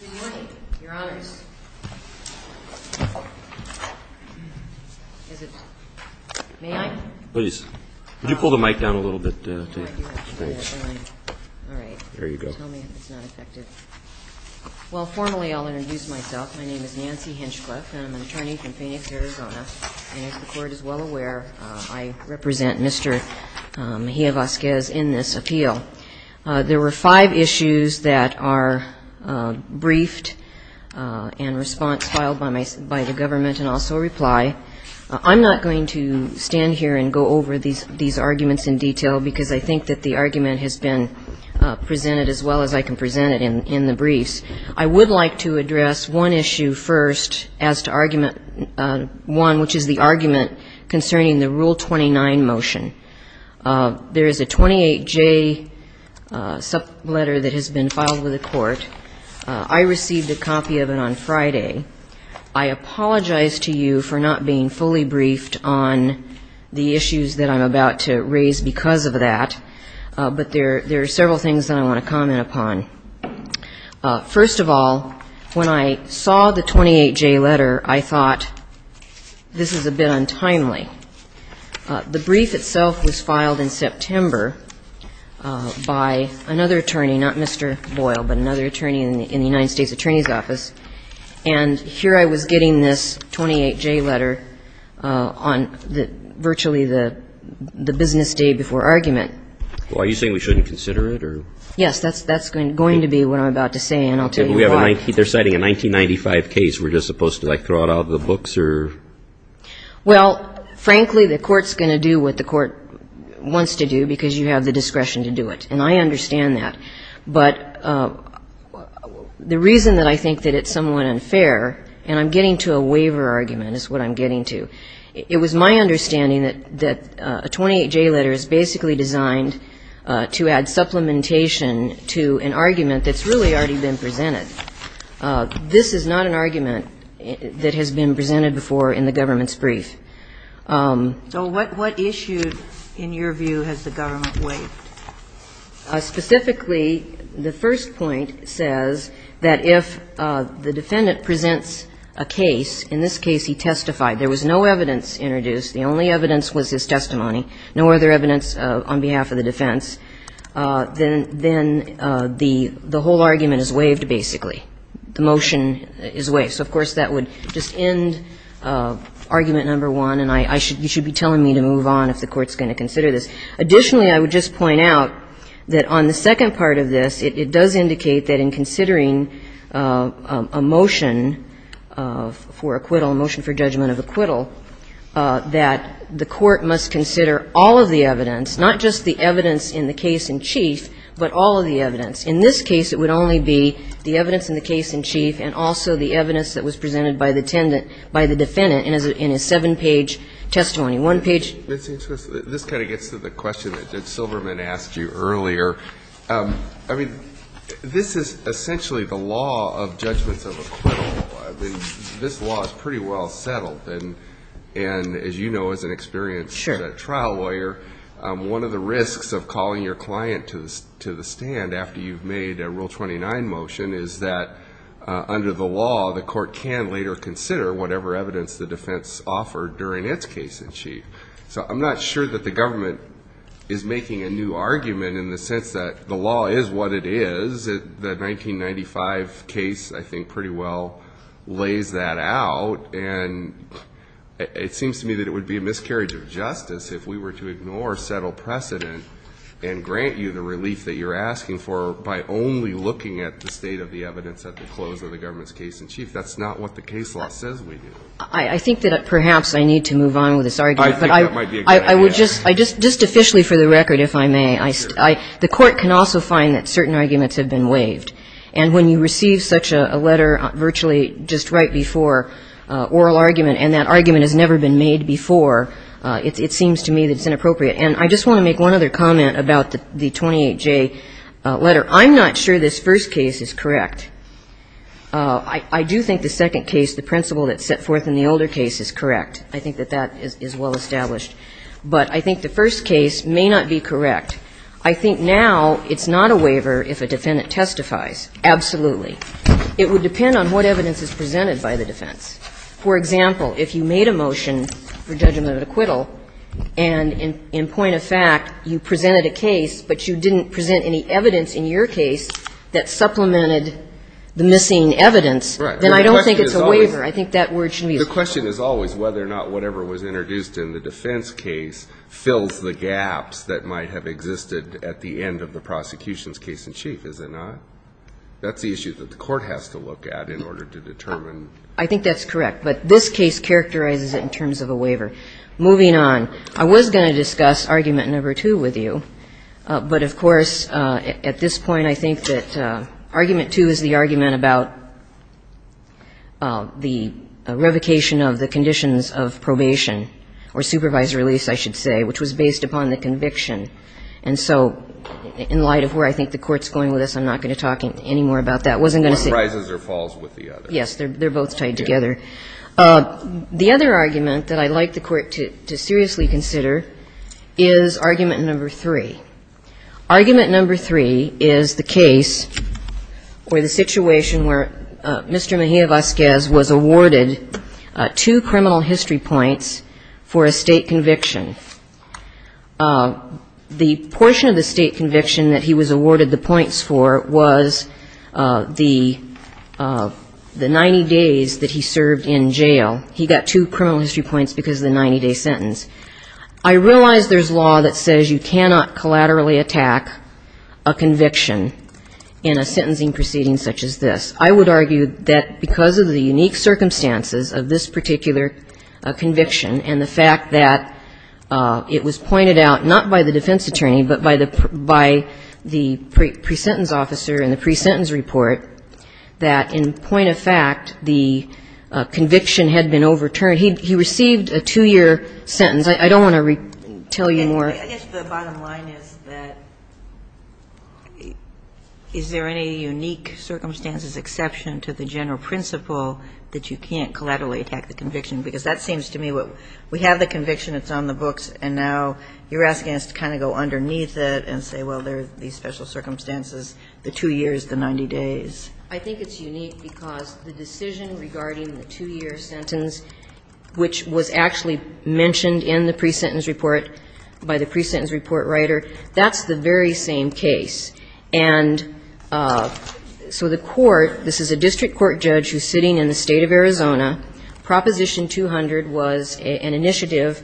Well, formally, I'll introduce myself. My name is Nancy Hinchcliffe, and I'm an attorney from Phoenix, Arizona. And as the Court is well aware, I represent Mr. Mejia-Vasquez in this appeal. There were five issues that are briefed and response filed by the government and also reply. I'm not going to stand here and go over these arguments in detail, because I think that the argument has been presented as well as I can present it in the briefs. I would like to address one issue first as to argument one, which is the argument concerning the Rule 29 motion. There is a 28J letter that has been filed with the Court. I received a copy of it on Friday. I apologize to you for not being fully briefed on the issues that I'm about to raise because of that, but there are several things that I want to comment upon. First of all, when I saw the 28J letter, I thought, this is a bit untimely. The brief itself was filed in September by another attorney, not Mr. Boyle, but another attorney in the United States Attorney's Office. And here I was getting this 28J letter on virtually the business day before argument. Well, are you saying we shouldn't consider it, or? Yes. That's going to be what I'm about to say, and I'll tell you why. They're citing a 1995 case. We're just supposed to, like, throw it out of the books or? Well, frankly, the Court's going to do what the Court wants to do because you have the discretion to do it, and I understand that. But the reason that I think that it's somewhat unfair, and I'm getting to a waiver argument is what I'm getting to, it was my understanding that a 28J letter is basically designed to add supplementation to an argument that's really already been presented. This is not an argument that has been presented before in the government's brief. So what issue, in your view, has the government waived? Specifically, the first point says that if the defendant presents a case, in this case he testified, there was no evidence introduced, the only evidence was his testimony, no other evidence on behalf of the defense, then the whole argument is waived, basically. The motion is waived. So, of course, that would just end argument number one, and I should be telling me to move on if the Court's going to consider this. Additionally, I would just point out that on the second part of this, it does indicate that in considering a motion for acquittal, a motion for judgment of acquittal, that the Court must consider all of the evidence, not just the evidence in the case in chief, but all of the evidence. In this case, it would only be the evidence in the case in chief and also the evidence that was presented by the defendant in his seven-page testimony. This kind of gets to the question that Silverman asked you earlier. I mean, this is essentially the law of judgments of acquittal. This law is pretty well settled, and as you know as an experienced trial lawyer, one of the risks of calling your client to the stand after you've made a Rule 29 motion is that under the law, the Court can later consider whatever evidence the defense offered during its case in chief. So I'm not sure that the government is making a new argument in the sense that the law is what it is. The 1995 case, I think, pretty well lays that out, and it seems to me that it would be a miscarriage of justice if we were to ignore settled precedent and grant you the relief that you're asking for by only looking at the state of the evidence at the close of the government's case in chief. That's not what the case law says we do. I think that perhaps I need to move on with this argument. I think that might be a good idea. Just officially for the record, if I may, the Court can also find that certain arguments have been waived, and when you receive such a letter virtually just right before oral argument, and that argument has never been made before, it seems to me that it's inappropriate. And I just want to make one other comment about the 28J letter. I'm not sure this first case is correct. I do think the second case, the principle that's set forth in the older case, is correct. I think that that is well established. But I think the first case may not be correct. I think now it's not a waiver if a defendant testifies. Absolutely. It would depend on what evidence is presented by the defense. For example, if you made a motion for judgment of acquittal, and in point of fact, you presented a case, but you didn't present any evidence in your case that supplemented the missing evidence, then I don't think it's a waiver. I think that word should be used. The question is always whether or not whatever was introduced in the defense case fills the gaps that might have existed at the end of the prosecution's case in chief, is it not? That's the issue that the court has to look at in order to determine. I think that's correct. But this case characterizes it in terms of a waiver. Moving on, I was going to discuss Argument No. 2 with you. But, of course, at this point, I think that Argument 2 is the argument about the revocation of the conditions of probation, or supervised release, I should say, which was based upon the conviction. And so in light of where I think the Court's going with this, I'm not going to talk any more about that. I wasn't going to say that. Breyer. One rises or falls with the other. Yes. They're both tied together. The other argument that I'd like the Court to seriously consider is Argument No. 3. Argument No. 3 is the case or the situation where Mr. Mejia-Vazquez was awarded two criminal history points for a State conviction. The portion of the State conviction that he was awarded the points for was the 90 days that he served in jail. He got two criminal history points because of the 90-day sentence. I realize there's law that says you cannot collaterally attack a conviction in a sentencing proceeding such as this. I would argue that because of the unique circumstances of this particular conviction and the fact that it was pointed out, not by the defense attorney, but by the pre-sentence officer in the pre-sentence report, that in point of fact, the conviction had been overturned. He received a two-year sentence. I don't want to tell you more. I guess the bottom line is that is there any unique circumstances, exception to the general principle, that you can't collaterally attack the conviction? Because that seems to me what we have the conviction, it's on the books, and now you're asking us to kind of go underneath it and say, well, there are these special circumstances, the two years, the 90 days. I think it's unique because the decision regarding the two-year sentence, which was actually mentioned in the pre-sentence report by the pre-sentence report writer, that's the very same case. And so the court, this is a district court judge who's sitting in the State of Arizona. Proposition 200 was an initiative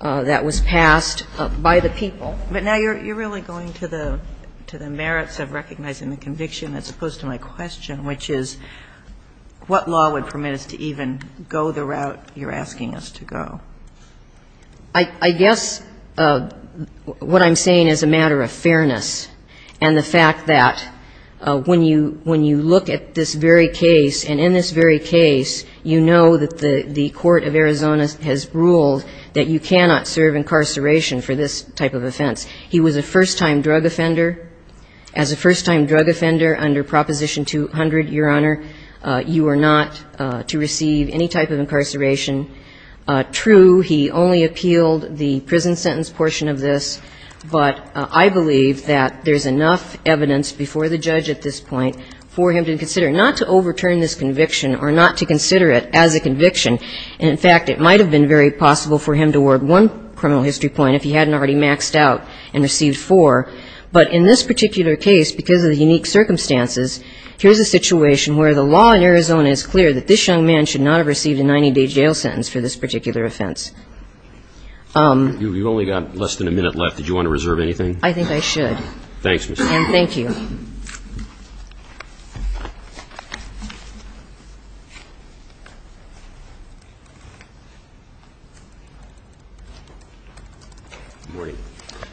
that was passed by the people. But now you're really going to the merits of recognizing the conviction as opposed to my question, which is what law would permit us to even go the route you're asking us to go? I guess what I'm saying is a matter of fairness and the fact that when you look at this very case, and in this very case, you know that the court of Arizona has ruled that you cannot serve incarceration for this type of offense. He was a first-time drug offender. As a first-time drug offender under Proposition 200, Your Honor, you are not to receive any type of incarceration. True, he only appealed the prison sentence portion of this, but I believe that there's enough evidence before the judge at this point for him to consider not to overturn this conviction or not to consider it as a conviction. And in fact, it might have been very possible for him to award one criminal history point if he hadn't already maxed out and received four. But in this particular case, because of the unique circumstances, here's a situation where the law in Arizona is clear that this young man should not have received a 90-day jail sentence for this particular offense. You've only got less than a minute left. Did you want to reserve anything? I think I should. Thanks, Mr. Chairman. And thank you.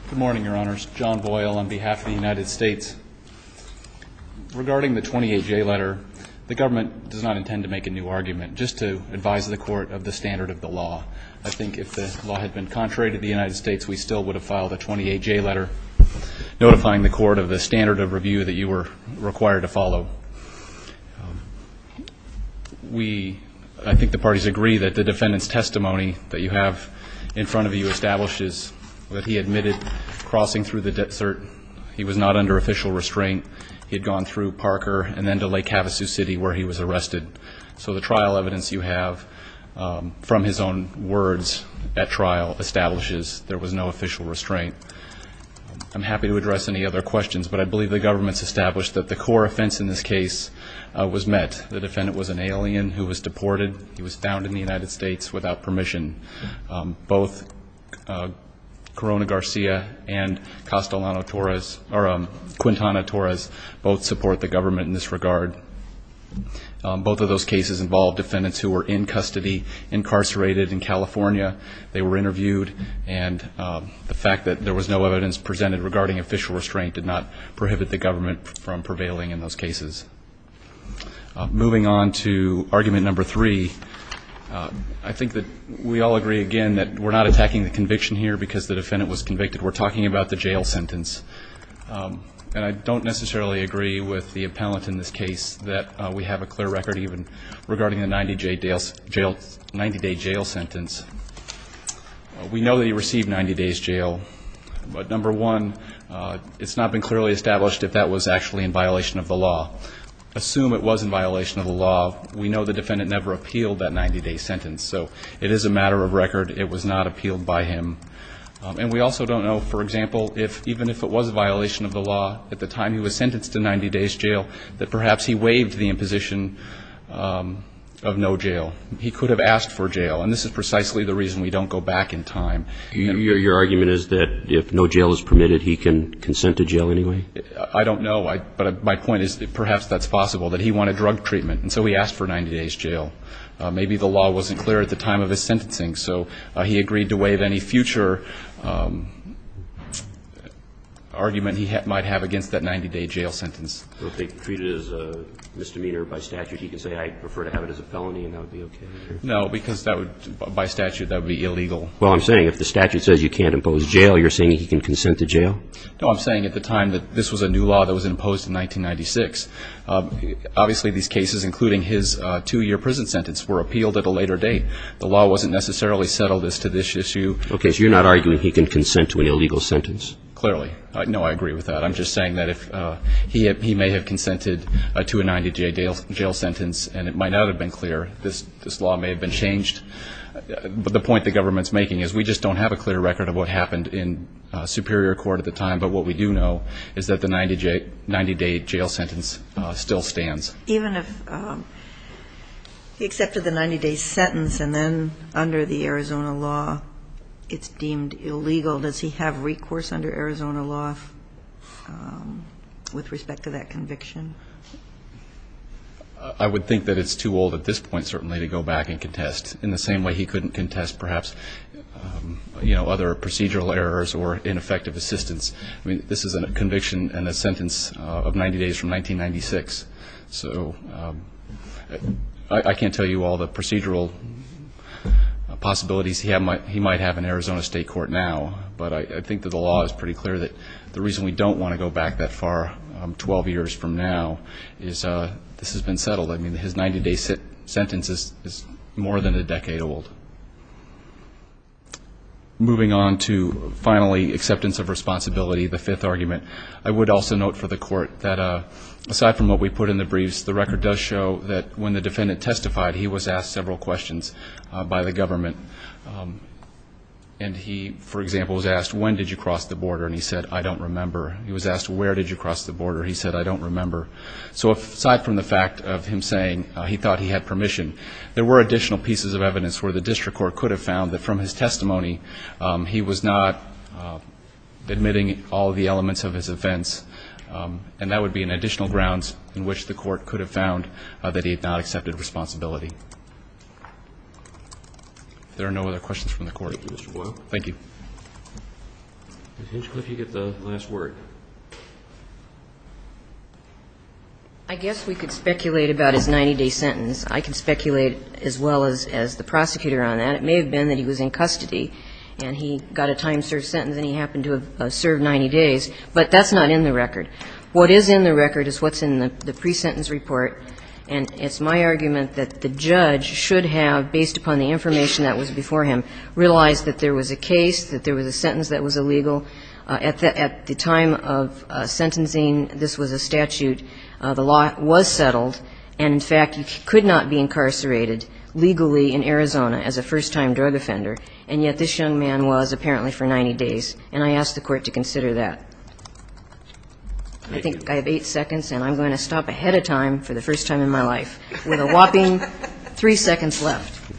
Good morning, Your Honors. John Boyle on behalf of the United States. Regarding the 28J letter, the government does not intend to make a new argument. Just to advise the Court of the standard of the law, I think if the law had been contrary to the United States, we still would have filed a 28J letter notifying the Court of the standard of review that you were required to follow. We, I think the parties agree that the defendant's testimony that you have in front of you establishes that he admitted crossing through the desert. He was not under official restraint. He had gone through Parker and then to Lake Havasu City where he was arrested. So the trial evidence you have from his own words at trial establishes there was no official restraint. I'm happy to address any other questions, but I believe the government's established that the core offense in this case was met. The defendant was an alien who was deported. He was found in the United States without permission. Both Corona Garcia and Castellano Torres, or Quintana Torres, both support the government in this regard. Both of those cases involved defendants who were in custody, incarcerated in California. They were interviewed, and the fact that there was no evidence presented regarding official restraint did not prohibit the government from prevailing in those cases. Moving on to argument number three, I think that we all agree, again, that we're not attacking the conviction here because the defendant was convicted. We're talking about the jail sentence. And I don't necessarily agree with the appellant in this case that we have a clear record even regarding the 90-day jail sentence. We know that he received 90 days jail, but number one, it's not been clearly established if that was actually in violation of the law. Assume it was in violation of the law. We know the defendant never appealed that 90-day sentence, so it is a matter of record. It was not appealed by him. And we also don't know, for example, if even if it was a violation of the law at the time he was sentenced to 90 days jail, that perhaps he waived the imposition of no jail. He could have asked for jail, and this is precisely the reason we don't go back in time. Your argument is that if no jail is permitted, he can consent to jail anyway? I don't know. But my point is perhaps that's possible, that he wanted drug treatment, and so he asked for 90 days jail. Maybe the law wasn't clear at the time of his sentencing, so he agreed to waive any future argument he might have against that 90-day jail sentence. Well, if they treat it as a misdemeanor by statute, he can say, I prefer to have it as a felony, and that would be okay? No, because that would, by statute, that would be illegal. Well, I'm saying if the statute says you can't impose jail, you're saying he can consent to jail? No, I'm saying at the time that this was a new law that was imposed in 1996. Obviously, these cases, including his two-year prison sentence, were appealed at a later date. The law wasn't necessarily settled as to this issue. Okay, so you're not arguing he can consent to an illegal sentence? Clearly. No, I agree with that. I'm just saying that if he may have consented to a 90-day jail sentence, and it might not have been clear, this law may have been changed. But the point the government's making is we just don't have a clear record of what happened in superior court at the time. But what we do know is that the 90-day jail sentence still stands. Even if he accepted the 90-day sentence and then under the Arizona law it's deemed illegal, does he have recourse under Arizona law with respect to that conviction? I would think that it's too old at this point, certainly, to go back and contest in the same way he couldn't contest perhaps other procedural errors or ineffective assistance. I mean, this is a conviction and a sentence of 90 days from 1996. So I can't tell you all the procedural possibilities he might have in Arizona state court now, but I think that the law is pretty clear that the reason we don't want to go back that far 12 years from now is this has been settled. I mean, his 90-day sentence is more than a decade old. Moving on to, finally, acceptance of responsibility, the fifth argument. I would also note for the court that aside from what we put in the briefs, the record does show that when the defendant testified, he was asked several questions by the government. And he, for example, was asked, when did you cross the border? And he said, I don't remember. He was asked, where did you cross the border? He said, I don't remember. So aside from the fact of him saying he thought he had permission, there were additional pieces of evidence where the district court could have found that from his testimony, he was not admitting all of the elements of his offense. And that would be an additional grounds in which the court could have found that he had not accepted responsibility. If there are no other questions from the court. Thank you, Mr. Boyle. Thank you. Ms. Hinchcliffe, you get the last word. I guess we could speculate about his 90-day sentence. I can speculate as well as the prosecutor on that. It may have been that he was in custody and he got a time-served sentence and he happened to have served 90 days. But that's not in the record. What is in the record is what's in the pre-sentence report. I guess I would say that the court, in the direction that was before him, realized that there was a case, that there was a sentence that was illegal. At the time of sentencing, this was a statute. The law was settled. And, in fact, he could not be incarcerated legally in Arizona as a first-time drug offender. And yet this young man was apparently for 90 days. And I ask the Court to consider that. I think I have eight seconds, and I'm going to stop ahead of time for the first time in my life, with a whopping three seconds left.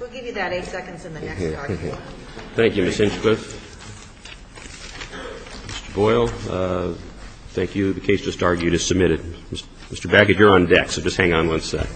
We'll give you that eight seconds in the next argument. Thank you, Ms. Hinchcliffe. Mr. Boyle, thank you. The case just argued is submitted. Mr. Baggett, you're on deck, so just hang on one sec.